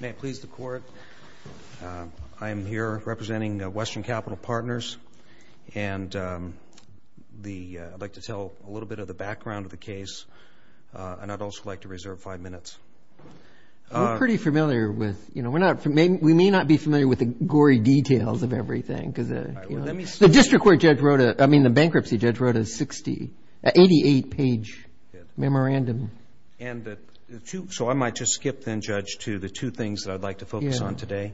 May it please the court, I am here representing Western Capital Partners and I'd like to tell a little bit of the background of the case and I'd also like to reserve five minutes. We're pretty familiar with, you know, we may not be familiar with the gory details of everything. The district court judge wrote a, I mean the bankruptcy judge wrote a sixty, eighty-eight page memorandum. And the two, so I might just skip then, Judge, to the two things that I'd like to focus on today.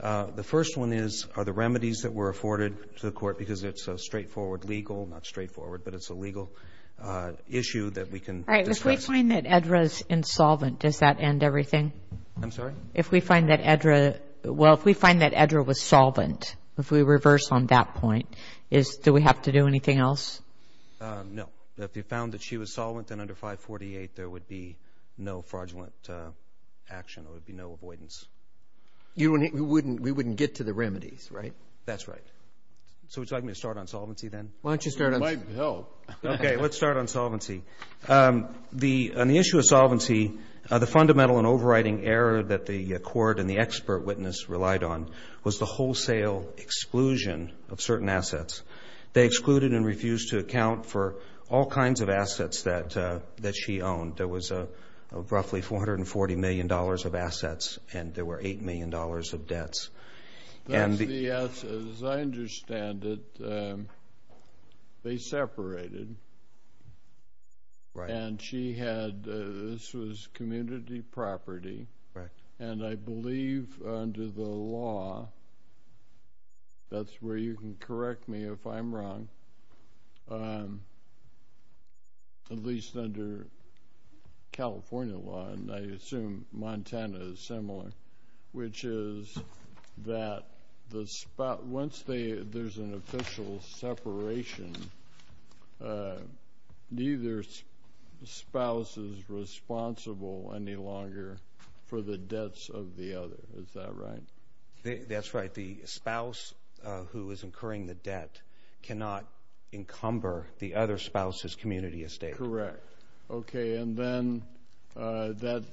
The first one is are the remedies that were afforded to the court because it's a straightforward legal, not straightforward, but it's a legal issue that we can discuss. All right, if we find that Edra's insolvent, does that end everything? I'm sorry? If we find that Edra, well, if we find that Edra was solvent, if we reverse on that point, is, do we have to do anything else? No. If we found that she was solvent then under 548 there would be no fraudulent action, there would be no avoidance. You wouldn't, we wouldn't get to the remedies, right? That's right. So would you like me to start on solvency then? Why don't you start on solvency? It might help. Okay, let's start on solvency. The, on the issue of solvency, the fundamental and overriding error that the court and the expert witness relied on was the wholesale exclusion of certain assets. They excluded and refused to account for all kinds of assets that she owned. There was roughly $440 million of assets and there were $8 million of debts. As I understand it, they separated. Right. And she had, this was community property. Right. And I believe under the law, that's where you can correct me if I'm wrong, at least under California law, and I assume Montana is similar, which is that once there's an official separation, neither spouse is responsible any longer for the debts of the other. Is that right? That's right. The spouse who is incurring the debt cannot encumber the other spouse's community estate. Correct. Okay, and then that,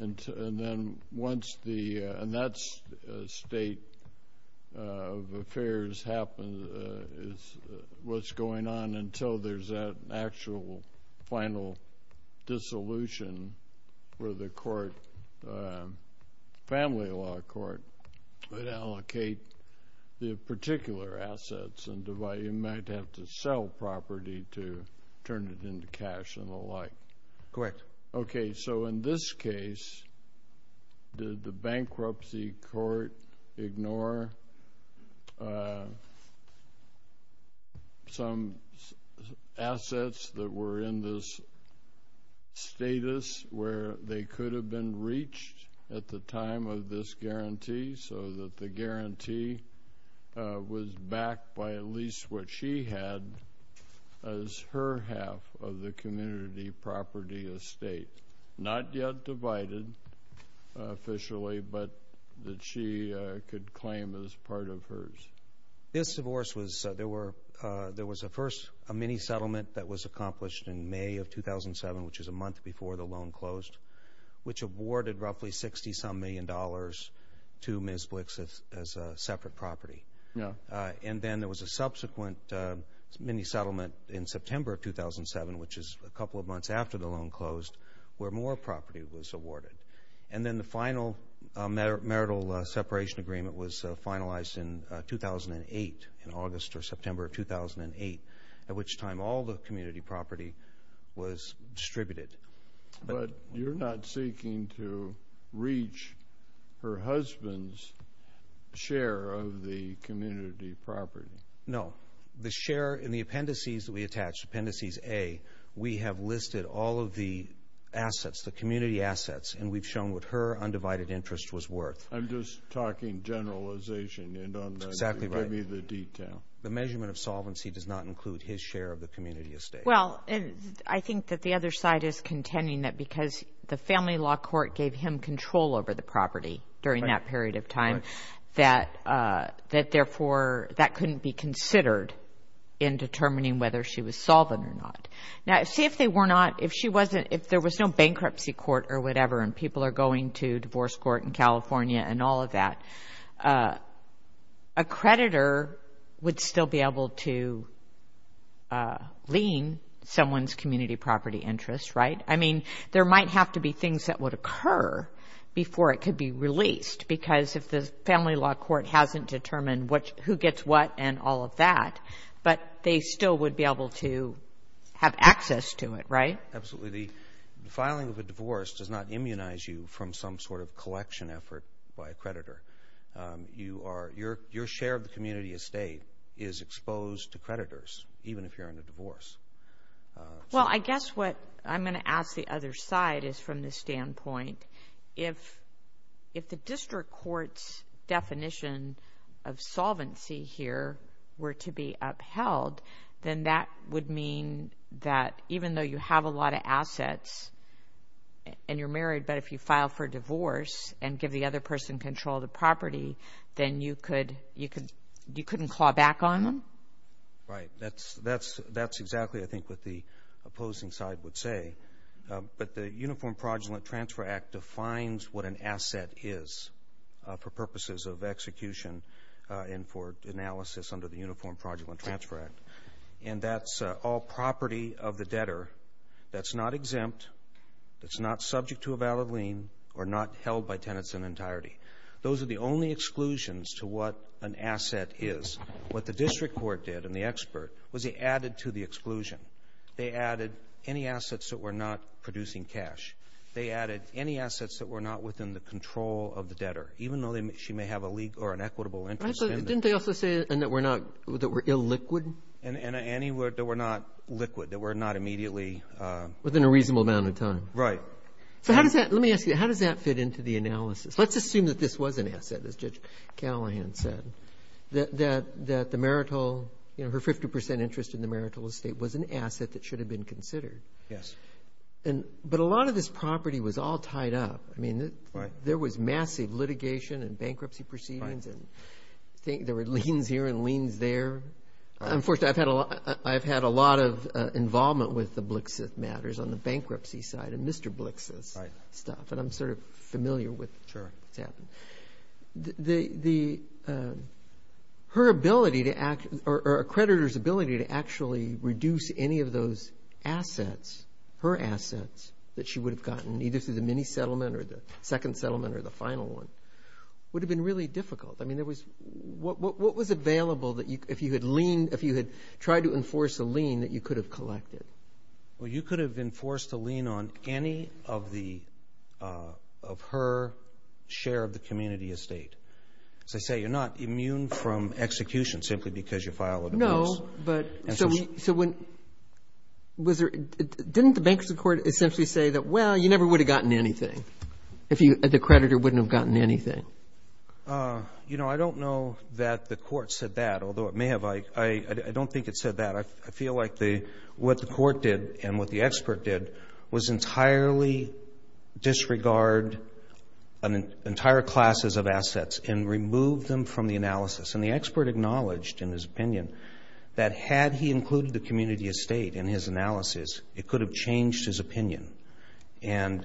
and then once the, and that's a state of affairs, what's going on until there's an actual final dissolution where the court, family law court, would allocate the particular assets and divide, you might have to sell property to turn it into cash and the like. Correct. Okay, so in this case, did the bankruptcy court ignore some assets that were in this status where they could have been reached at the time of this guarantee so that the guarantee was backed by at least what she had as her half of the community property estate, not yet divided officially, but that she could claim as part of hers? This divorce was, there were, there was a first, a mini-settlement that was accomplished in May of 2007, which is a month before the loan closed, which awarded roughly $60-some million to Ms. Blix as a separate property. And then there was a subsequent mini-settlement in September of 2007, which is a couple of months after the loan closed, where more property was awarded. And then the final marital separation agreement was finalized in 2008, in August or September of 2008, at which time all the community property was distributed. But you're not seeking to reach her husband's share of the community property. No. The share in the appendices that we attached, appendices A, we have listed all of the assets, the community assets, and we've shown what her undivided interest was worth. I'm just talking generalization. You don't have to write me the detail. The measurement of solvency does not include his share of the community estate. Well, I think that the other side is contending that because the family law court gave him control over the property during that period of time, that therefore that couldn't be considered in determining whether she was solvent or not. Now, see if they were not, if she wasn't, if there was no bankruptcy court or whatever and people are going to divorce court in California and all of that, a creditor would still be able to lien someone's community property interest, right? I mean, there might have to be things that would occur before it could be released because if the family law court hasn't determined who gets what and all of that, but they still would be able to have access to it, right? Absolutely. The filing of a divorce does not immunize you from some sort of collection effort by a creditor. Your share of the community estate is exposed to creditors, even if you're in a divorce. Well, I guess what I'm going to ask the other side is from this standpoint, if the district court's definition of solvency here were to be upheld, then that would mean that even though you have a lot of assets and you're married, but if you file for divorce and give the other person control of the property, then you couldn't claw back on them? Right. That's exactly, I think, what the opposing side would say. But the Uniform Fraudulent Transfer Act defines what an asset is for purposes of execution and for analysis under the Uniform Fraudulent Transfer Act, and that's all property of the debtor that's not exempt, that's not subject to a valid lien, or not held by tenants in entirety. Those are the only exclusions to what an asset is. What the district court did and the expert was they added to the exclusion. They added any assets that were not producing cash. They added any assets that were not within the control of the debtor, even though she may have a legal or an equitable interest in them. Didn't they also say that were illiquid? Any that were not liquid, that were not immediately. Within a reasonable amount of time. Right. Let me ask you, how does that fit into the analysis? Let's assume that this was an asset, as Judge Callahan said, that the marital, her 50% interest in the marital estate was an asset that should have been considered. Yes. But a lot of this property was all tied up. I mean, there was massive litigation and bankruptcy proceedings, and there were liens here and liens there. Unfortunately, I've had a lot of involvement with the Blixith matters on the bankruptcy side and Mr. Blixith's stuff, and I'm sort of familiar with what's happened. Her ability or a creditor's ability to actually reduce any of those assets, her assets that she would have gotten either through the mini-settlement or the second settlement or the final one, would have been really difficult. I mean, what was available if you had tried to enforce a lien that you could have collected? Well, you could have enforced a lien on any of her share of the community estate. As I say, you're not immune from execution simply because you file a divorce. So didn't the bankruptcy court essentially say that, well, you never would have gotten anything if the creditor wouldn't have gotten anything? You know, I don't know that the court said that, although it may have. I don't think it said that. I feel like what the court did and what the expert did was entirely disregard entire classes of assets and remove them from the analysis. And the expert acknowledged in his opinion that had he included the community estate in his analysis, it could have changed his opinion. And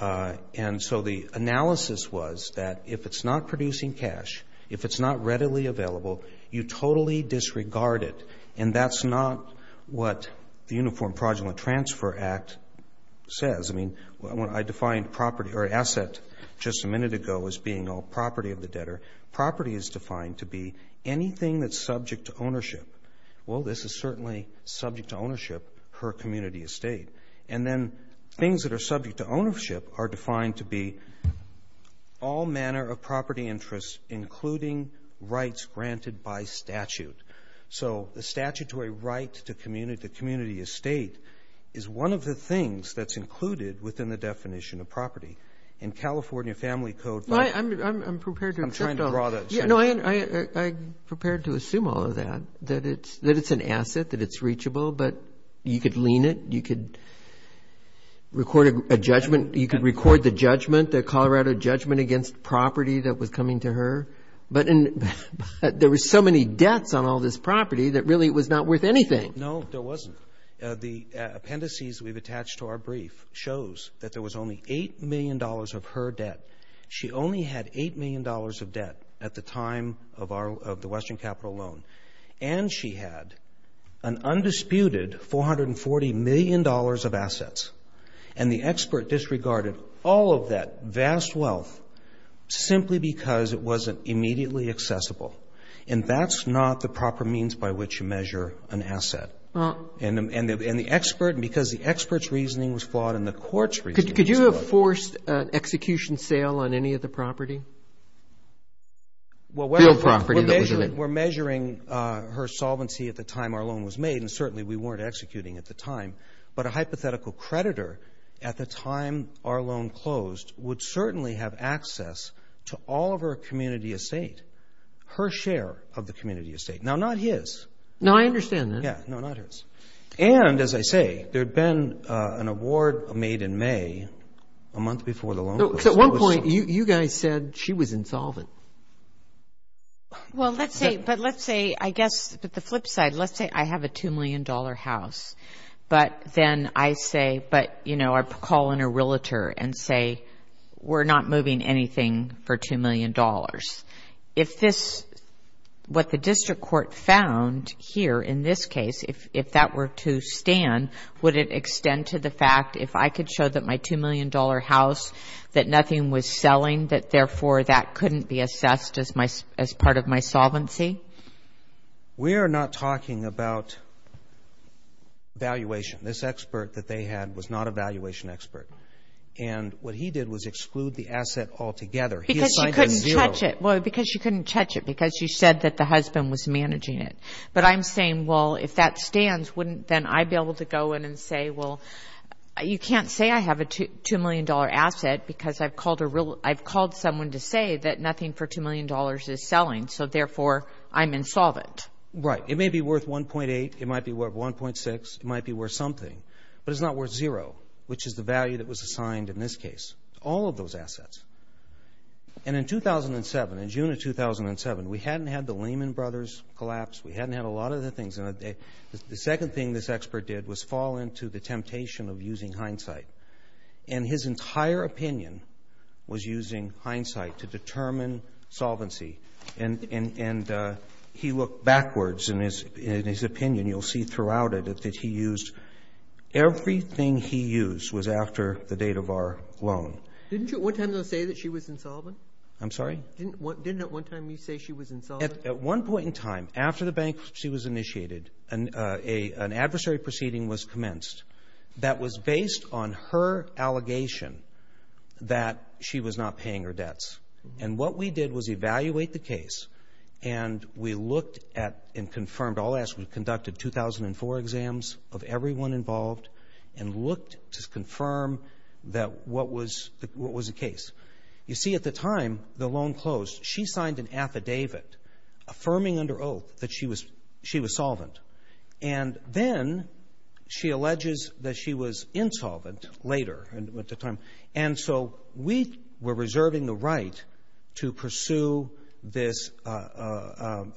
so the analysis was that if it's not producing cash, if it's not readily available, you totally disregard it. And that's not what the Uniform Fraudulent Transfer Act says. I mean, I defined property or asset just a minute ago as being a property of the debtor. Property is defined to be anything that's subject to ownership. Well, this is certainly subject to ownership, her community estate. And then things that are subject to ownership are defined to be all manner of property interests, including rights granted by statute. So the statutory right to community estate is one of the things that's included within the definition of property. In California Family Code by the way. No, I prepared to assume all of that, that it's an asset, that it's reachable, but you could lean it. You could record a judgment. You could record the judgment, the Colorado judgment against property that was coming to her. But there were so many debts on all this property that really it was not worth anything. No, there wasn't. The appendices we've attached to our brief shows that there was only $8 million of her debt. She only had $8 million of debt at the time of the Western Capital Loan. And she had an undisputed $440 million of assets. And the expert disregarded all of that vast wealth simply because it wasn't immediately accessible. And that's not the proper means by which you measure an asset. And the expert, because the expert's reasoning was flawed and the court's reasoning was flawed. Was there a forced execution sale on any of the property? Well, we're measuring her solvency at the time our loan was made, and certainly we weren't executing at the time. But a hypothetical creditor at the time our loan closed would certainly have access to all of her community estate, her share of the community estate. Now, not his. No, I understand that. Yeah. No, not hers. And, as I say, there had been an award made in May, a month before the loan was closed. So at one point, you guys said she was insolvent. Well, let's say, but let's say, I guess, but the flip side, let's say I have a $2 million house. But then I say, but, you know, I call in a realtor and say, we're not moving anything for $2 million. If this, what the district court found here in this case, if that were to stand, would it extend to the fact if I could show that my $2 million house, that nothing was selling, that, therefore, that couldn't be assessed as part of my solvency? We are not talking about valuation. This expert that they had was not a valuation expert. And what he did was exclude the asset altogether. Because you couldn't touch it. Well, because you couldn't touch it because you said that the husband was managing it. But I'm saying, well, if that stands, wouldn't then I be able to go in and say, well, you can't say I have a $2 million asset because I've called someone to say that nothing for $2 million is selling. So, therefore, I'm insolvent. Right. It may be worth $1.8. It might be worth $1.6. It might be worth something. But it's not worth zero, which is the value that was assigned in this case. All of those assets. And in 2007, in June of 2007, we hadn't had the Lehman Brothers collapse. We hadn't had a lot of other things. And the second thing this expert did was fall into the temptation of using hindsight. And his entire opinion was using hindsight to determine solvency. And he looked backwards in his opinion. And you'll see throughout it that he used — everything he used was after the date of our loan. Didn't you at one time, though, say that she was insolvent? I'm sorry? Didn't at one time you say she was insolvent? At one point in time, after the bankruptcy was initiated, an adversary proceeding was commenced that was based on her allegation that she was not paying her debts. And what we did was evaluate the case. And we looked at and confirmed all assets. We conducted 2004 exams of everyone involved and looked to confirm that what was the case. You see, at the time, the loan closed. She signed an affidavit affirming under oath that she was solvent. And then she alleges that she was insolvent later at the time. And so we were reserving the right to pursue this — to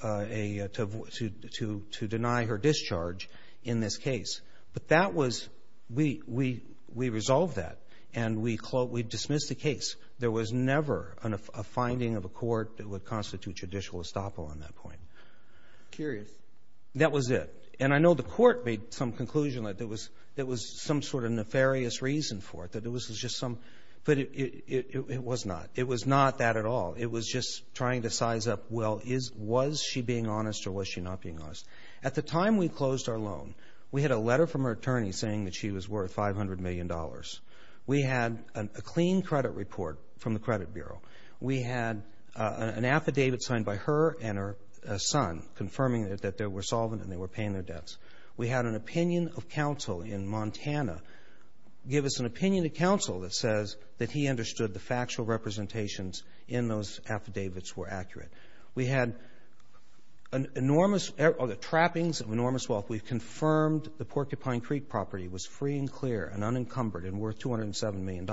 deny her discharge in this case. But that was — we resolved that. And we dismissed the case. There was never a finding of a court that would constitute judicial estoppel on that point. Curious. That was it. And I know the court made some conclusion that there was some sort of nefarious reason for it, that it was just some — but it was not. It was not that at all. It was just trying to size up, well, was she being honest or was she not being honest? At the time we closed our loan, we had a letter from her attorney saying that she was worth $500 million. We had a clean credit report from the credit bureau. We had an affidavit signed by her and her son confirming that they were solvent and they were paying their debts. We had an opinion of counsel in Montana give us an opinion of counsel that says that he understood the factual representations in those affidavits were accurate. We had enormous — trappings of enormous wealth. We confirmed the Porcupine Creek property was free and clear and unencumbered and worth $207 million.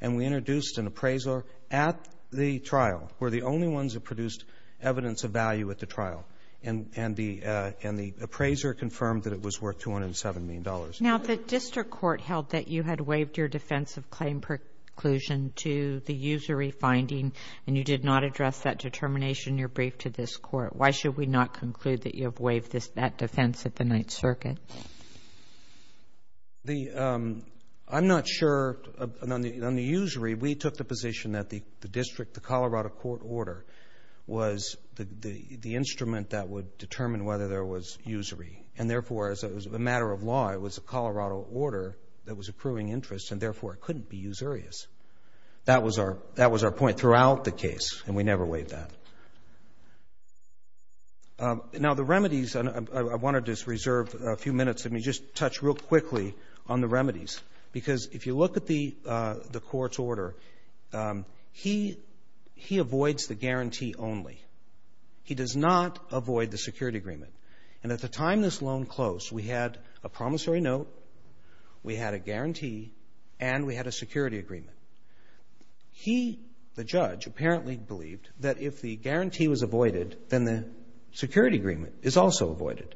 And we introduced an appraiser at the trial. And the appraiser confirmed that it was worth $207 million. Now, the district court held that you had waived your defense of claim preclusion to the usury finding and you did not address that determination in your brief to this court. Why should we not conclude that you have waived that defense at the Ninth Circuit? The — I'm not sure. On the usury, we took the position that the district, the Colorado court order, was the instrument that would determine whether there was usury. And, therefore, as a matter of law, it was a Colorado order that was approving interest, and, therefore, it couldn't be usurious. That was our point throughout the case, and we never waived that. Now, the remedies — I wanted to reserve a few minutes. Let me just touch real quickly on the remedies. Because if you look at the court's order, he — he avoids the guarantee only. He does not avoid the security agreement. And at the time this loan closed, we had a promissory note, we had a guarantee, and we had a security agreement. He, the judge, apparently believed that if the guarantee was avoided, then the security agreement is also avoided.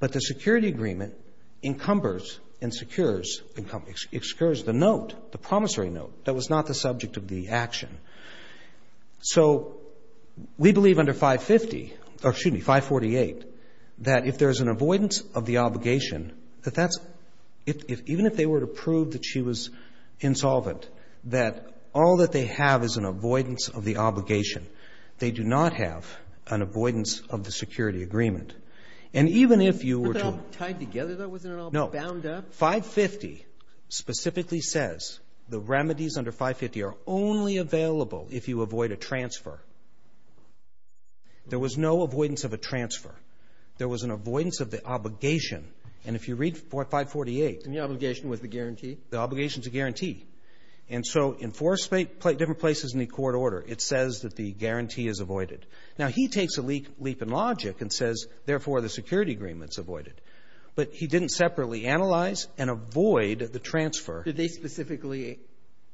But the security agreement encumbers and secures — it secures the note, the promissory note, that was not the subject of the action. So we believe under 550 — or, excuse me, 548, that if there is an avoidance of the obligation, that that's — even if they were to prove that she was insolvent, that all that they have is an avoidance of the obligation. They do not have an avoidance of the security agreement. And even if you were to — Breyer, tied together, though? Wasn't it all bound up? No. 550 specifically says the remedies under 550 are only available if you avoid a transfer. There was no avoidance of a transfer. There was an avoidance of the obligation. And if you read 548 — And the obligation was the guarantee? The obligation is a guarantee. And so in four different places in the court order, it says that the guarantee is avoided. Now, he takes a leap in logic and says, therefore, the security agreement's avoided. But he didn't separately analyze and avoid the transfer. Did they specifically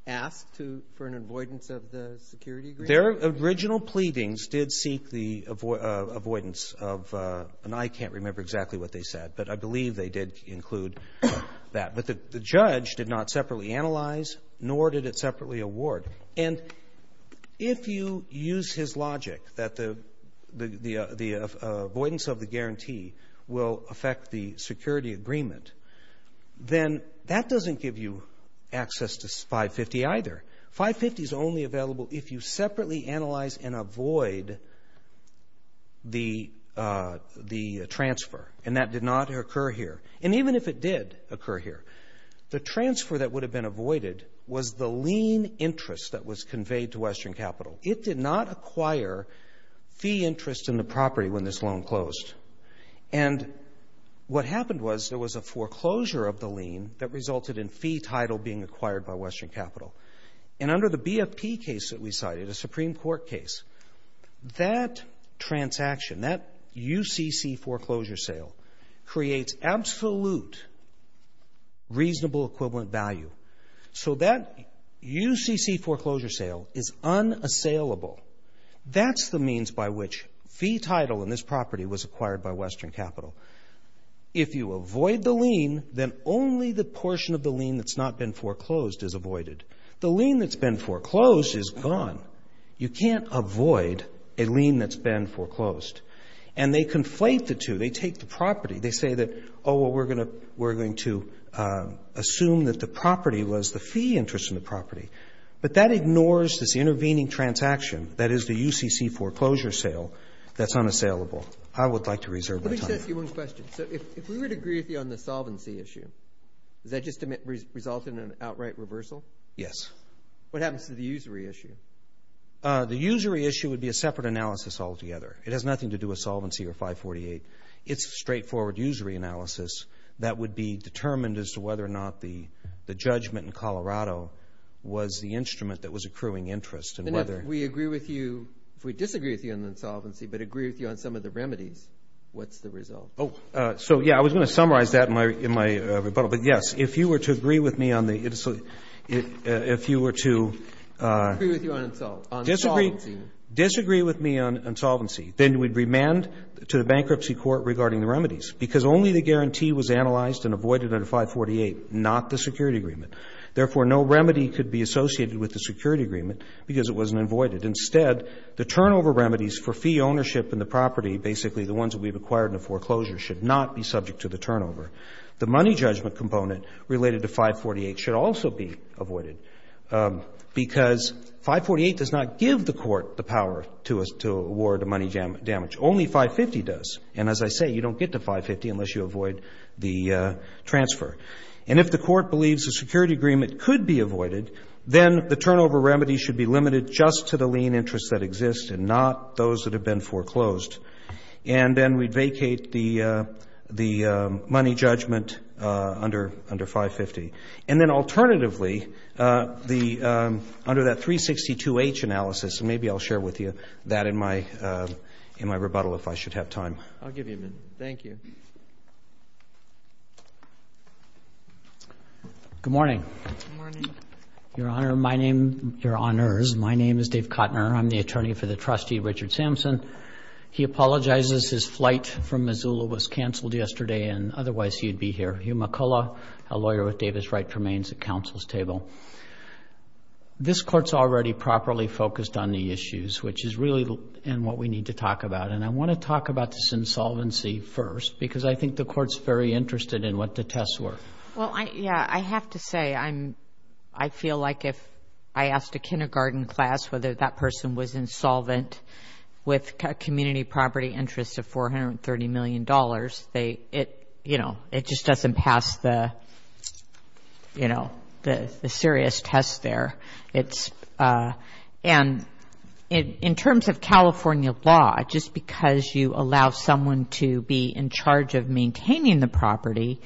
ask to — for an avoidance of the security agreement? Their original pleadings did seek the avoidance of — and I can't remember exactly what they said, but I believe they did include that. But the judge did not separately analyze, nor did it separately award. And if you use his logic that the avoidance of the guarantee will affect the security agreement, then that doesn't give you access to 550 either. 550 is only available if you separately analyze and avoid the transfer. And that did not occur here. And even if it did occur here, the transfer that would have been avoided was the lien interest that was conveyed to Western Capital. It did not acquire fee interest in the property when this loan closed. And what happened was there was a foreclosure of the lien that resulted in fee title being acquired by Western Capital. And under the BFP case that we cited, a Supreme Court case, that transaction, that UCC foreclosure sale, creates absolute reasonable equivalent value. So that UCC foreclosure sale is unassailable. That's the means by which fee title in this property was acquired by Western Capital. If you avoid the lien, then only the portion of the lien that's not been foreclosed is avoided. The lien that's been foreclosed is gone. You can't avoid a lien that's been foreclosed. And they conflate the two. They take the property. They say that, oh, well, we're going to assume that the property was the fee interest in the property. But that ignores this intervening transaction that is the UCC foreclosure sale that's unassailable. I would like to reserve my time. Let me just ask you one question. So if we would agree with you on the solvency issue, does that just result in an outright reversal? Yes. What happens to the usury issue? The usury issue would be a separate analysis altogether. It has nothing to do with solvency or 548. It's a straightforward usury analysis that would be determined as to whether or not the judgment in Colorado was the instrument that was accruing interest and whether we agree with you. If we disagree with you on the insolvency but agree with you on some of the remedies, what's the result? So, yeah, I was going to summarize that in my rebuttal. But, yes, if you were to agree with me on the – if you were to disagree with me on solvency, then we'd remand to the bankruptcy court regarding the remedies because only the guarantee was analyzed and avoided under 548, not the security agreement. Therefore, no remedy could be associated with the security agreement because it wasn't avoided. Instead, the turnover remedies for fee ownership in the property, basically the ones that we've acquired in the foreclosure, should not be subject to the turnover. The money judgment component related to 548 should also be avoided because 548 does not give the court the power to award money damage. Only 550 does. And as I say, you don't get to 550 unless you avoid the transfer. And if the court believes a security agreement could be avoided, then the turnover remedy should be limited just to the lien interests that exist and not those that have been foreclosed. And then we'd vacate the money judgment under 550. And then alternatively, under that 362H analysis, and maybe I'll share with you that in my rebuttal if I should have time. I'll give you a minute. Thank you. Good morning. Good morning. Your Honor, my name – your Honors, my name is Dave Kottner. I'm the attorney for the trustee, Richard Sampson. He apologizes. His flight from Missoula was canceled yesterday and otherwise he'd be here. Hugh McCullough, a lawyer with Davis Wright remains at counsel's table. This court's already properly focused on the issues, which is really what we need to talk about. And I want to talk about this insolvency first because I think the court's very interested in what the tests were. Well, yeah, I have to say I feel like if I asked a kindergarten class whether that person was insolvent with community property interest of $430 million, it just doesn't pass the, you know, the serious test there. It's – and in terms of California law, just because you allow someone to be in charge of maintaining the property,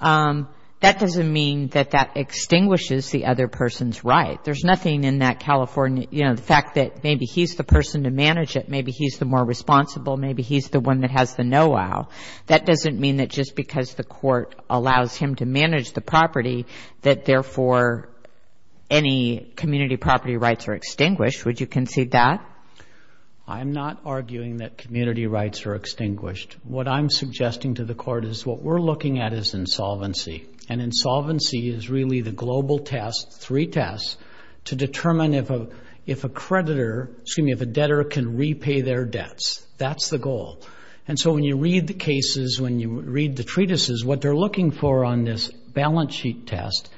that doesn't mean that that extinguishes the other person's right. There's nothing in that California – you know, the fact that maybe he's the person to manage it, maybe he's the more responsible, maybe he's the one that has the know-how, that doesn't mean that just because the court allows him to manage the property that therefore any community property rights are extinguished. Would you concede that? I'm not arguing that community rights are extinguished. What I'm suggesting to the court is what we're looking at is insolvency. And insolvency is really the global test, three tests, to determine if a creditor – excuse me, if a debtor can repay their debts. That's the goal. And so when you read the cases, when you read the treatises, what they're looking for on this balance sheet test,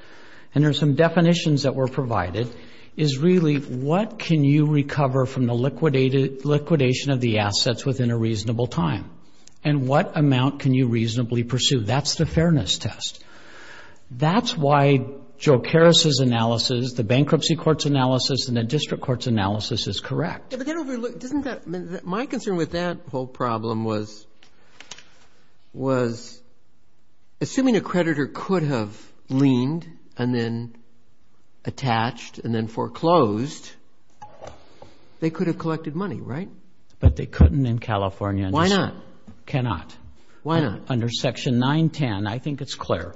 and there's some definitions that were provided, is really what can you recover from the liquidation of the assets within a reasonable time, and what amount can you reasonably pursue. That's the fairness test. That's why Joe Karas's analysis, the bankruptcy court's analysis, and the district court's analysis is correct. My concern with that whole problem was assuming a creditor could have leaned and then attached and then foreclosed, they could have collected money, right? But they couldn't in California. Why not? Cannot. Why not? Under Section 910, I think it's clear.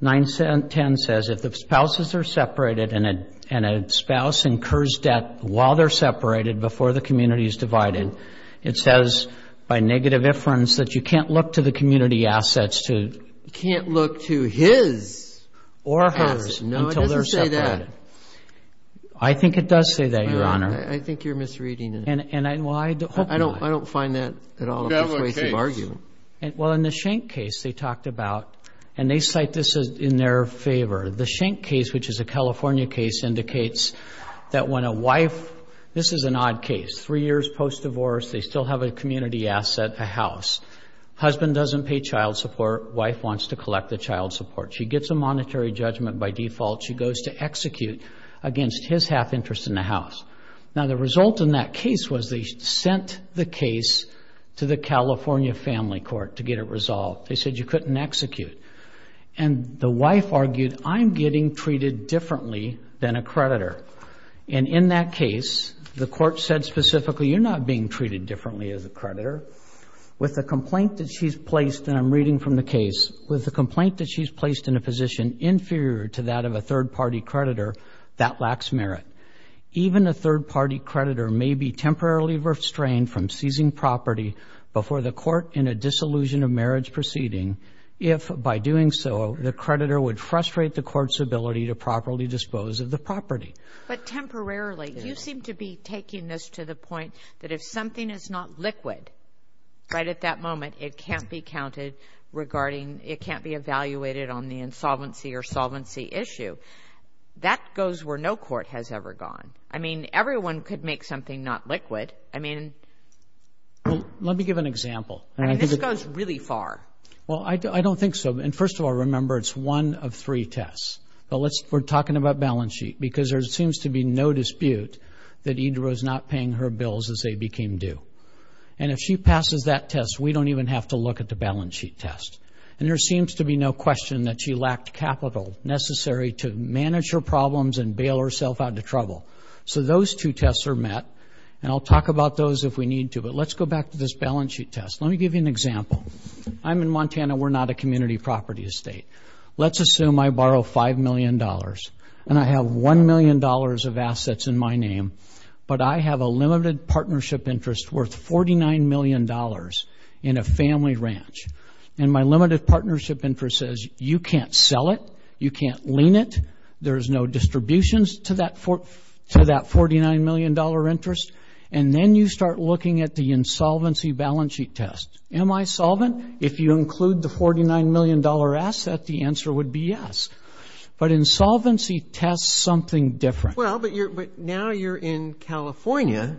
910 says if the spouses are separated and a spouse incurs debt while they're separated before the community is divided. It says by negative inference that you can't look to the community assets to You can't look to his assets. Or hers until they're separated. No, it doesn't say that. I think it does say that, Your Honor. I think you're misreading it. Well, I hope not. I don't find that at all a persuasive argument. Well, in the Schenck case they talked about, and they cite this in their favor, the Schenck case, which is a California case, indicates that when a wife, this is an odd case, three years post-divorce, they still have a community asset, a house. Husband doesn't pay child support. Wife wants to collect the child support. She gets a monetary judgment by default. She goes to execute against his half interest in the house. Now, the result in that case was they sent the case to the California family court to get it resolved. They said you couldn't execute. And the wife argued, I'm getting treated differently than a creditor. And in that case, the court said specifically, you're not being treated differently as a creditor. With the complaint that she's placed, and I'm reading from the case, with the complaint that she's placed in a position inferior to that of a third-party creditor, that lacks merit. Even a third-party creditor may be temporarily restrained from seizing property before the court in a disillusion of marriage proceeding if, by doing so, the creditor would frustrate the court's ability to properly dispose of the property. But temporarily, you seem to be taking this to the point that if something is not liquid right at that moment, it can't be counted regarding, it can't be evaluated on the insolvency or solvency issue. That goes where no court has ever gone. I mean, everyone could make something not liquid. I mean. Well, let me give an example. I mean, this goes really far. Well, I don't think so. And first of all, remember, it's one of three tests. But let's, we're talking about balance sheet, because there seems to be no dispute that Ida was not paying her bills as they became due. And if she passes that test, we don't even have to look at the balance sheet test. And there seems to be no question that she lacked capital necessary to manage her problems and bail herself out to trouble. So those two tests are met. And I'll talk about those if we need to. But let's go back to this balance sheet test. Let me give you an example. I'm in Montana. We're not a community property estate. Let's assume I borrow $5 million. And I have $1 million of assets in my name. But I have a limited partnership interest worth $49 million in a family ranch. And my limited partnership interest says you can't sell it, you can't lien it, there's no distributions to that $49 million interest. And then you start looking at the insolvency balance sheet test. Am I solvent? If you include the $49 million asset, the answer would be yes. But insolvency tests something different. Well, but now you're in California,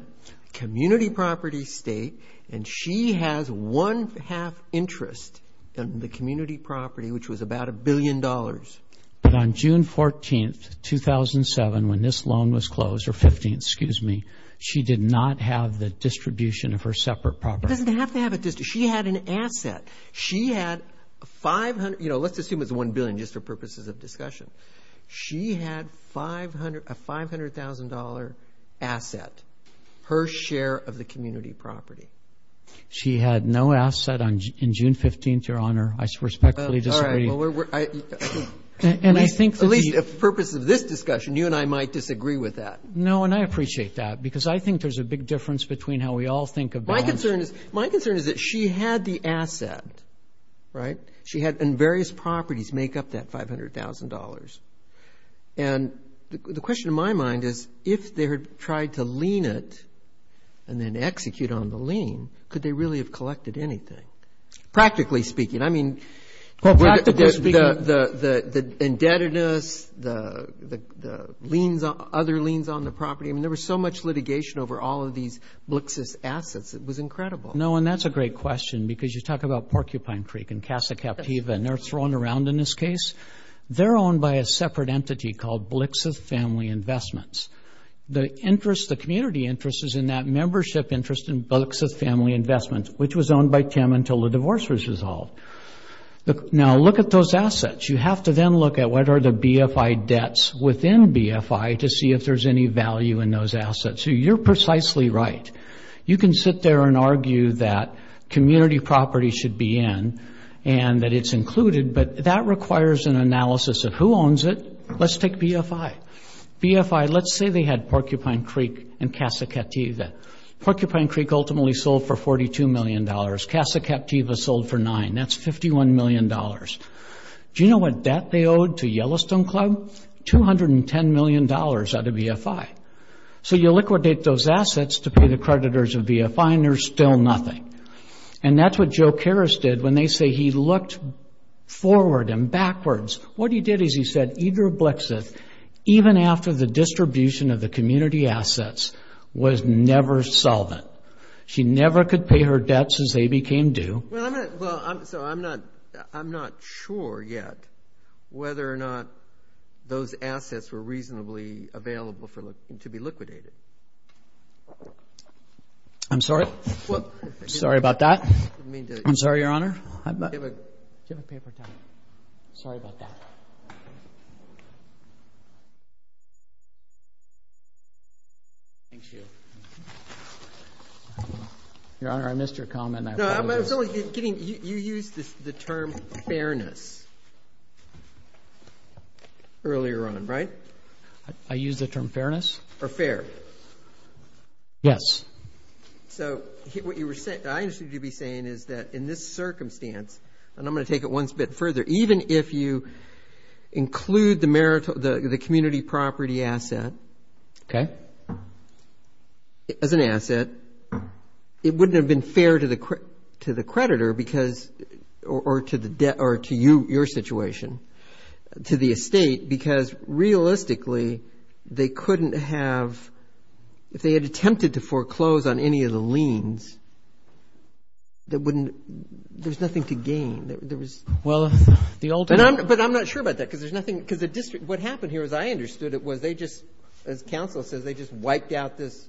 community property state, and she has one-half interest in the community property, which was about $1 billion. But on June 14th, 2007, when this loan was closed, or 15th, excuse me, she did not have the distribution of her separate property. Doesn't have to have a distribution. She had an asset. She had $500, you know, let's assume it's $1 billion just for purposes of discussion. She had a $500,000 asset, her share of the community property. She had no asset on June 15th, Your Honor. I respectfully disagree. Well, at least for purposes of this discussion, you and I might disagree with that. No, and I appreciate that, because I think there's a big difference between how we all think of the answer. My concern is that she had the asset, right? She had various properties make up that $500,000. And the question in my mind is if they had tried to lien it and then execute on the lien, could they really have collected anything? Practically speaking. Practically speaking. The indebtedness, the other liens on the property. I mean, there was so much litigation over all of these Blixith assets. It was incredible. No, and that's a great question, because you talk about Porcupine Creek and Casa Captiva, and they're thrown around in this case. They're owned by a separate entity called Blixith Family Investments. The interest, the community interest, is in that membership interest in Blixith Family Investments, which was owned by Tim until the divorce was resolved. Now, look at those assets. You have to then look at what are the BFI debts within BFI to see if there's any value in those assets. You're precisely right. You can sit there and argue that community property should be in and that it's included, but that requires an analysis of who owns it. Let's take BFI. BFI, let's say they had Porcupine Creek and Casa Captiva. Porcupine Creek ultimately sold for $42 million. Casa Captiva sold for nine. That's $51 million. Do you know what debt they owed to Yellowstone Club? $210 million out of BFI. So you liquidate those assets to pay the creditors of BFI, and there's still nothing. And that's what Joe Karas did when they say he looked forward and backwards. What he did is he said, even after the distribution of the community assets was never solvent. She never could pay her debts as they became due. Well, I'm not sure yet whether or not those assets were reasonably available to be liquidated. I'm sorry. Sorry about that. I'm sorry, Your Honor. Do you have a paper towel? Sorry about that. Thank you. Your Honor, I missed your comment. No, I was only getting you used the term fairness earlier on, right? I used the term fairness? Or fair. Yes. So what I understood you to be saying is that in this circumstance, and I'm going to take it one step further, even if you include the community property asset as an asset, it wouldn't have been fair to the creditor or to your situation, to the estate, because realistically they couldn't have, if they had attempted to foreclose on any of the liens, there's nothing to gain. But I'm not sure about that, because there's nothing. Because the district, what happened here, as I understood it, was they just, as counsel says, they just wiped out this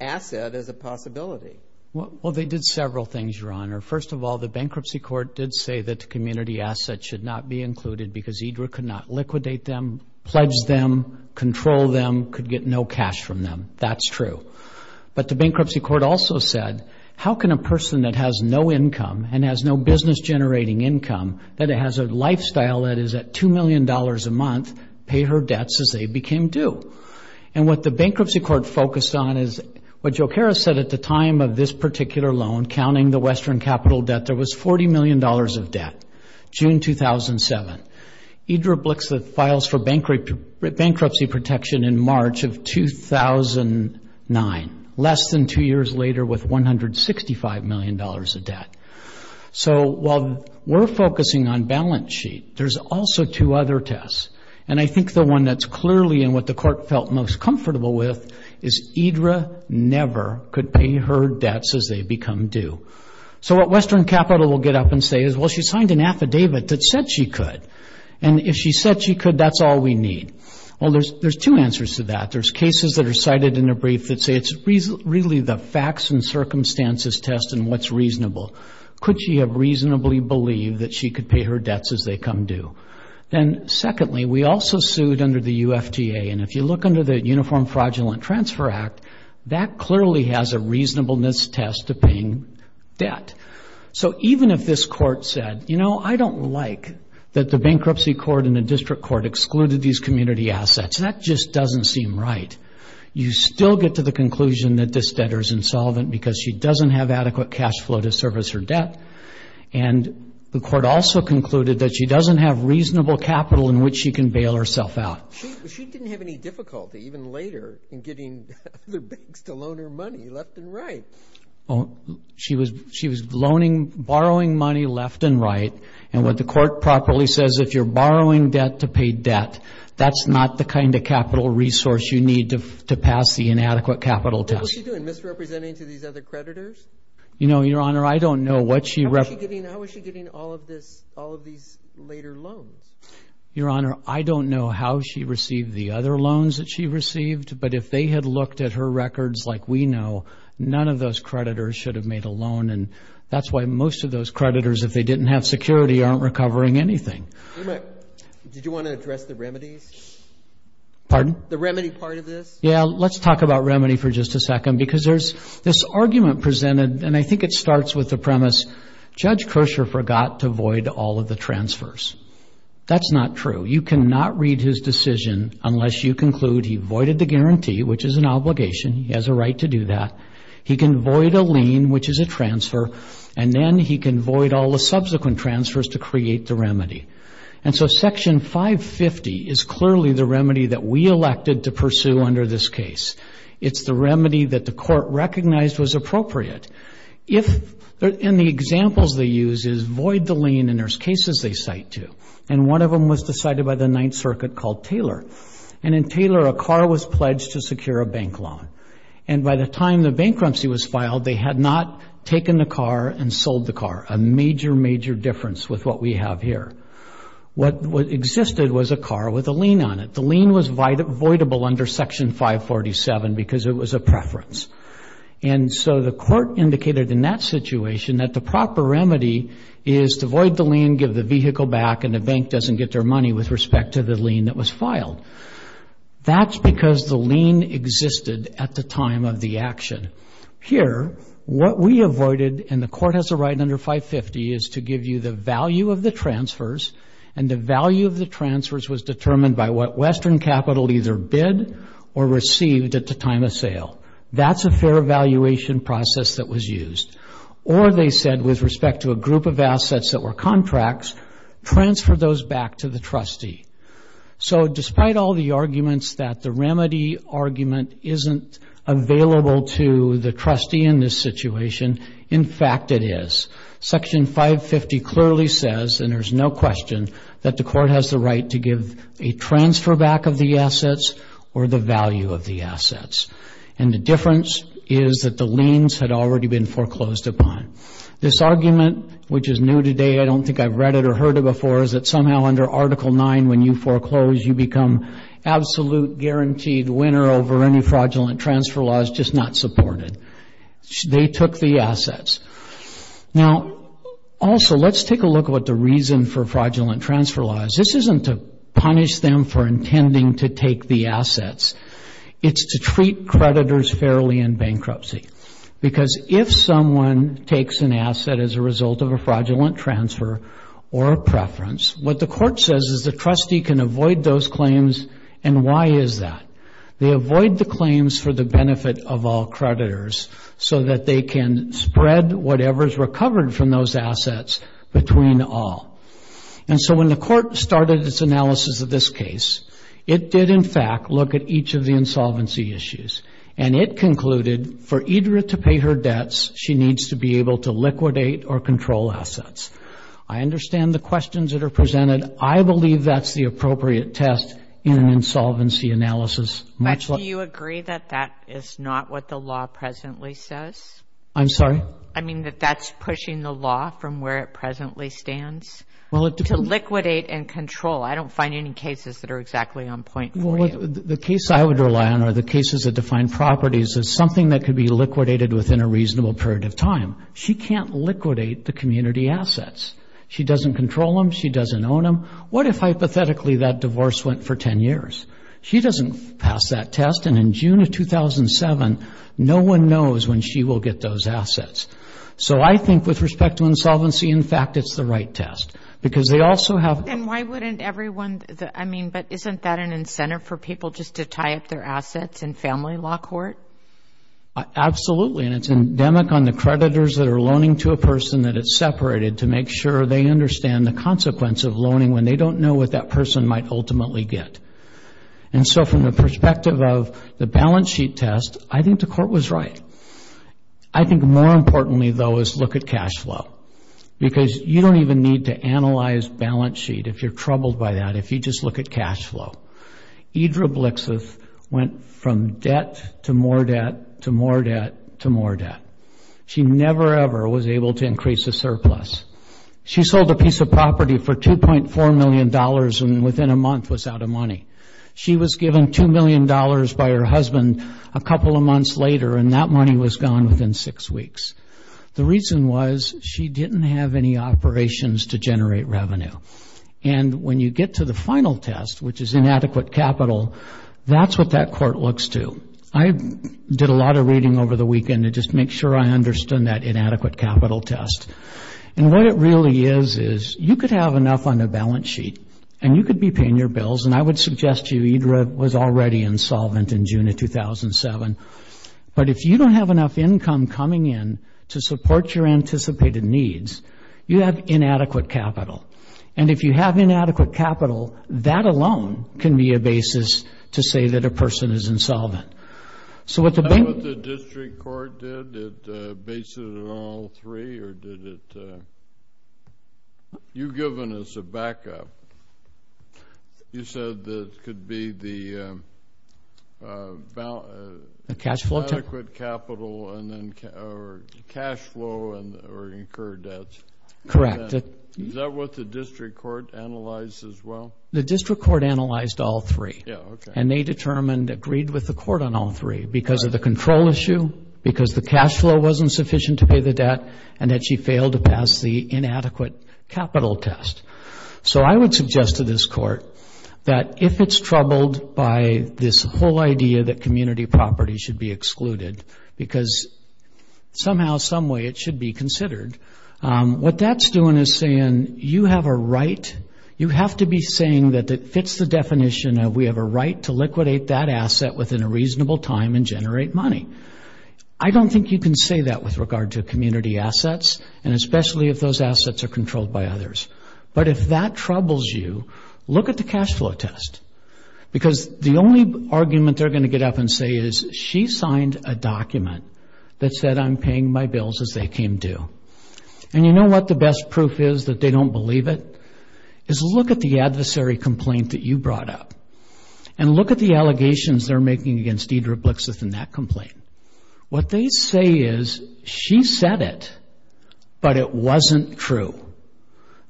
asset as a possibility. Well, they did several things, Your Honor. First of all, the bankruptcy court did say that the community asset should not be included because IDRA could not liquidate them, pledge them, control them, could get no cash from them. That's true. But the bankruptcy court also said, how can a person that has no income and has no business-generating income, that has a lifestyle that is at $2 million a month, pay her debts as they became due? And what the bankruptcy court focused on is, what Jokera said at the time of this particular loan, counting the Western Capital debt, there was $40 million of debt, June 2007. IDRA blicks the files for bankruptcy protection in March of 2009, less than two years later with $165 million of debt. So while we're focusing on balance sheet, there's also two other tests. And I think the one that's clearly in what the court felt most comfortable with is IDRA never could pay her debts as they become due. So what Western Capital will get up and say is, well, she signed an affidavit that said she could. And if she said she could, that's all we need. Well, there's two answers to that. There's cases that are cited in a brief that say it's really the facts and circumstances test and what's reasonable. Could she have reasonably believed that she could pay her debts as they come due? And secondly, we also sued under the UFTA. And if you look under the Uniform Fraudulent Transfer Act, that clearly has a reasonableness test to paying debt. So even if this court said, you know, I don't like that the bankruptcy court and the district court excluded these community assets, that just doesn't seem right. You still get to the conclusion that this debtor is insolvent because she doesn't have adequate cash flow to service her debt. And the court also concluded that she doesn't have reasonable capital in which she can bail herself out. She didn't have any difficulty, even later, in getting other banks to loan her money left and right. She was borrowing money left and right. And what the court properly says, if you're borrowing debt to pay debt, that's not the kind of capital resource you need to pass the inadequate capital test. What was she doing, misrepresenting to these other creditors? You know, Your Honor, I don't know. How was she getting all of these later loans? Your Honor, I don't know how she received the other loans that she received. But if they had looked at her records like we know, none of those creditors should have made a loan. And that's why most of those creditors, if they didn't have security, aren't recovering anything. Did you want to address the remedies? Pardon? The remedy part of this? Yeah, let's talk about remedy for just a second. Because there's this argument presented, and I think it starts with the premise, Judge Kershaw forgot to void all of the transfers. That's not true. You cannot read his decision unless you conclude he voided the guarantee, which is an obligation, he has a right to do that. He can void a lien, which is a transfer, and then he can void all the subsequent transfers to create the remedy. And so Section 550 is clearly the remedy that we elected to pursue under this case. It's the remedy that the court recognized was appropriate. And the examples they use is void the lien, and there's cases they cite too. And one of them was decided by the Ninth Circuit called Taylor. And in Taylor, a car was pledged to secure a bank loan. And by the time the bankruptcy was filed, they had not taken the car and sold the car, a major, major difference with what we have here. What existed was a car with a lien on it. The lien was voidable under Section 547 because it was a preference. And so the court indicated in that situation that the proper remedy is to void the lien, give the vehicle back, and the bank doesn't get their money with respect to the lien that was filed. That's because the lien existed at the time of the action. Here, what we avoided, and the court has a right under 550, is to give you the value of the transfers, and the value of the transfers was determined by what Western Capital either bid or received at the time of sale. That's a fair evaluation process that was used. Or they said with respect to a group of assets that were contracts, transfer those back to the trustee. So despite all the arguments that the remedy argument isn't available to the trustee in this situation, in fact it is. Section 550 clearly says, and there's no question, that the court has the right to give a transfer back of the assets or the value of the assets. And the difference is that the liens had already been foreclosed upon. This argument, which is new today, I don't think I've read it or heard it before, is that somehow under Article 9 when you foreclose, you become absolute guaranteed winner over any fraudulent transfer laws, just not supported. They took the assets. Now, also let's take a look at what the reason for fraudulent transfer laws. This isn't to punish them for intending to take the assets. It's to treat creditors fairly in bankruptcy. Because if someone takes an asset as a result of a fraudulent transfer or a preference, what the court says is the trustee can avoid those claims, and why is that? They avoid the claims for the benefit of all creditors so that they can spread whatever is recovered from those assets between all. And so when the court started its analysis of this case, it did in fact look at each of the insolvency issues, and it concluded for Idra to pay her debts, she needs to be able to liquidate or control assets. I understand the questions that are presented. I believe that's the appropriate test in an insolvency analysis. Do you agree that that is not what the law presently says? I'm sorry? I mean that that's pushing the law from where it presently stands to liquidate and control. I don't find any cases that are exactly on point for you. The case I would rely on are the cases that define properties as something that could be liquidated within a reasonable period of time. She can't liquidate the community assets. She doesn't control them. She doesn't own them. What if hypothetically that divorce went for 10 years? She doesn't pass that test, and in June of 2007, no one knows when she will get those assets. So I think with respect to insolvency, in fact, it's the right test because they also have- And why wouldn't everyone, I mean, but isn't that an incentive for people just to tie up their assets in family law court? Absolutely, and it's endemic on the creditors that are loaning to a person that it's separated to make sure they understand the consequence of loaning when they don't know what that person might ultimately get. And so from the perspective of the balance sheet test, I think the court was right. I think more importantly, though, is look at cash flow because you don't even need to analyze balance sheet if you're troubled by that, if you just look at cash flow. Idra Blixith went from debt to more debt to more debt to more debt. She never, ever was able to increase a surplus. She sold a piece of property for $2.4 million and within a month was out of money. She was given $2 million by her husband a couple of months later, and that money was gone within six weeks. The reason was she didn't have any operations to generate revenue. And when you get to the final test, which is inadequate capital, that's what that court looks to. I did a lot of reading over the weekend to just make sure I understood that inadequate capital test. And what it really is is you could have enough on the balance sheet and you could be paying your bills, and I would suggest to you, Idra was already insolvent in June of 2007, but if you don't have enough income coming in to support your anticipated needs, you have inadequate capital. And if you have inadequate capital, that alone can be a basis to say that a person is insolvent. Is that what the district court did? It based it on all three or did it? You've given us a backup. You said that it could be the adequate capital or cash flow or incurred debts. Correct. Is that what the district court analyzed as well? The district court analyzed all three. Yeah, okay. And they determined, agreed with the court on all three because of the control issue, because the cash flow wasn't sufficient to pay the debt, and that she failed to pass the inadequate capital test. So I would suggest to this court that if it's troubled by this whole idea that community property should be excluded because somehow, someway it should be considered, what that's doing is saying you have a right, you have to be saying that it fits the definition of we have a right to liquidate that asset within a reasonable time and generate money. I don't think you can say that with regard to community assets and especially if those assets are controlled by others. But if that troubles you, look at the cash flow test because the only argument they're going to get up and say is, she signed a document that said I'm paying my bills as they came due. And you know what the best proof is that they don't believe it? Is look at the adversary complaint that you brought up and look at the allegations they're making against Deidre Blixith in that complaint. What they say is she said it, but it wasn't true.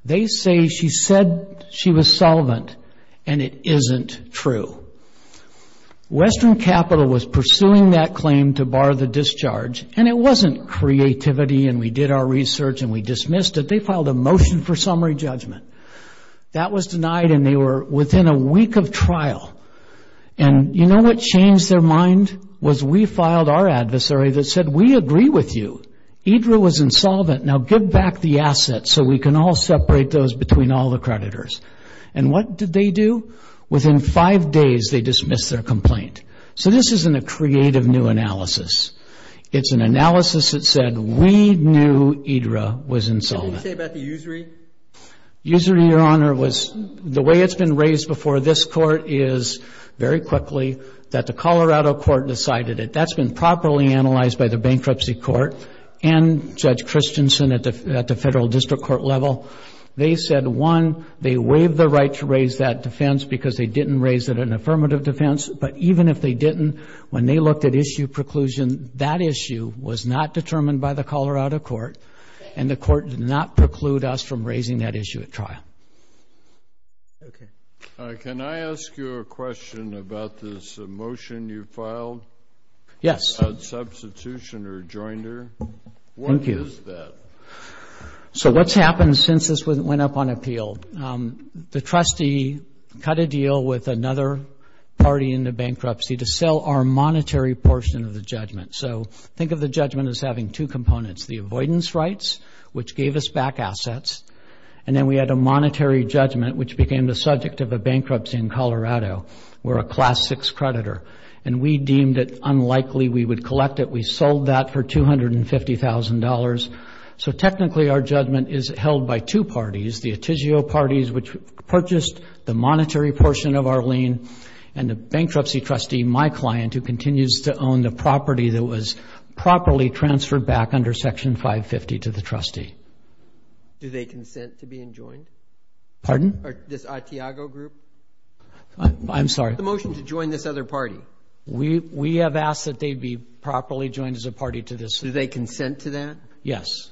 They say she said she was solvent, and it isn't true. Western Capital was pursuing that claim to bar the discharge and it wasn't creativity and we did our research and we dismissed it. They filed a motion for summary judgment. That was denied and they were within a week of trial. And you know what changed their mind? Was we filed our adversary that said we agree with you. Deidre was insolvent, now give back the assets so we can all separate those between all the creditors. And what did they do? Within five days they dismissed their complaint. So this isn't a creative new analysis. It's an analysis that said we knew Deidre was insolvent. What did you say about the usury? Usury, Your Honor, was the way it's been raised before this court is very quickly that the Colorado court decided it. That's been properly analyzed by the bankruptcy court and Judge Christensen at the federal district court level. They said, one, they waived the right to raise that defense because they didn't raise it an affirmative defense. But even if they didn't, when they looked at issue preclusion, that issue was not determined by the Colorado court and the court did not preclude us from raising that issue at trial. Okay. Can I ask you a question about this motion you filed? Yes. On substitution or joinder? Thank you. What is that? So what's happened since this went up on appeal? The trustee cut a deal with another party in the bankruptcy to sell our monetary portion of the judgment. So think of the judgment as having two components, the avoidance rights, which gave us back assets, and then we had a monetary judgment, which became the subject of a bankruptcy in Colorado. We're a Class VI creditor, and we deemed it unlikely we would collect it. We sold that for $250,000. So technically, our judgment is held by two parties, the Atizio parties, which purchased the monetary portion of our lien, and the bankruptcy trustee, my client, who continues to own the property that was properly transferred back under Section 550 to the trustee. Do they consent to being joined? Pardon? This Atiago group? I'm sorry. The motion to join this other party? We have asked that they be properly joined as a party to this. Do they consent to that? Yes.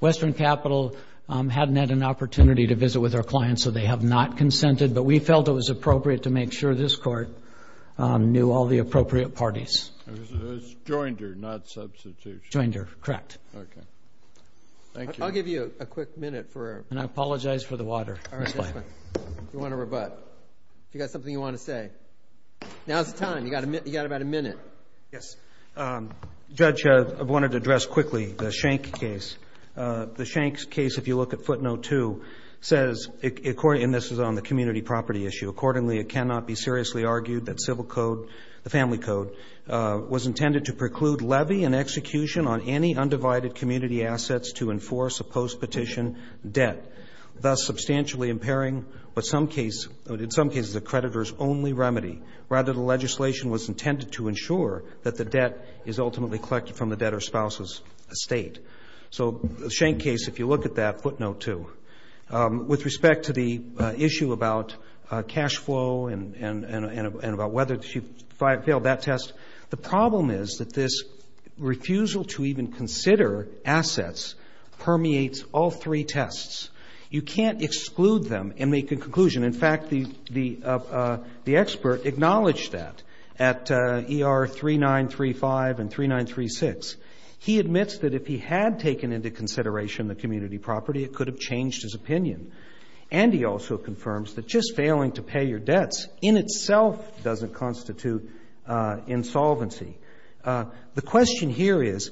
Western Capital hadn't had an opportunity to visit with our clients, so they have not consented, but we felt it was appropriate to make sure this Court knew all the appropriate parties. It was joinder, not substitution. Joinder, correct. Okay. Thank you. I'll give you a quick minute for a response. And I apologize for the water. All right. If you want to rebut. If you've got something you want to say. Now's the time. You've got about a minute. Yes. Judge, I wanted to address quickly the Schenck case. The Schenck case, if you look at footnote 2, says, and this is on the community property issue, accordingly it cannot be seriously argued that civil code, the family code, was intended to preclude levy and execution on any undivided community assets to enforce a post-petition debt, thus substantially impairing, but in some cases a creditor's only remedy. Rather, the legislation was intended to ensure that the debt is ultimately collected from the debtor's spouse's estate. So the Schenck case, if you look at that, footnote 2. With respect to the issue about cash flow and about whether she failed that test, the problem is that this refusal to even consider assets permeates all three tests. You can't exclude them and make a conclusion. In fact, the expert acknowledged that at ER 3935 and 3936. He admits that if he had taken into consideration the community property, it could have changed his opinion. And he also confirms that just failing to pay your debts in itself doesn't constitute insolvency. The question here is,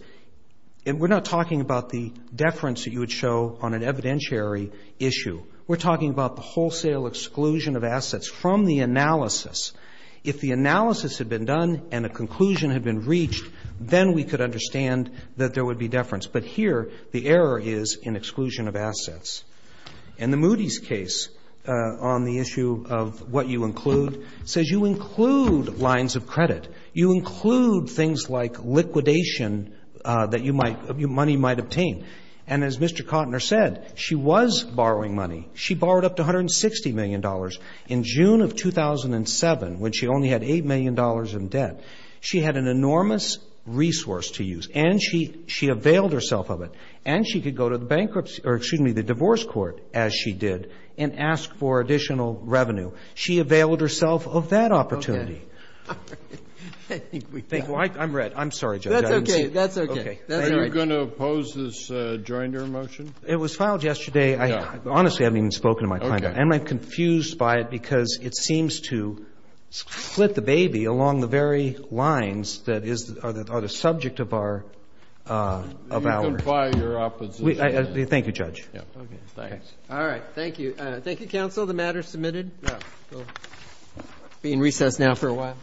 and we're not talking about the deference that you would show on an evidentiary issue. We're talking about the wholesale exclusion of assets from the analysis. If the analysis had been done and a conclusion had been reached, then we could understand that there would be deference. But here the error is in exclusion of assets. And the Moody's case on the issue of what you include, says you include lines of credit. You include things like liquidation that you might, money might obtain. And as Mr. Kottner said, she was borrowing money. She borrowed up to $160 million. In June of 2007, when she only had $8 million in debt, she had an enormous resource to use. And she availed herself of it. And she could go to the bankruptcy, or excuse me, the divorce court as she did and ask for additional revenue. She availed herself of that opportunity. I'm red. I'm sorry, Judge. That's okay. That's okay. Are you going to oppose this Joyner motion? It was filed yesterday. Honestly, I haven't even spoken to my client. Am I confused by it? Because it seems to split the baby along the very lines that are the subject of our. You can fire your opposition. Thank you, Judge. All right. Thank you. Thank you, counsel. The matter is submitted. Being recessed now for a while.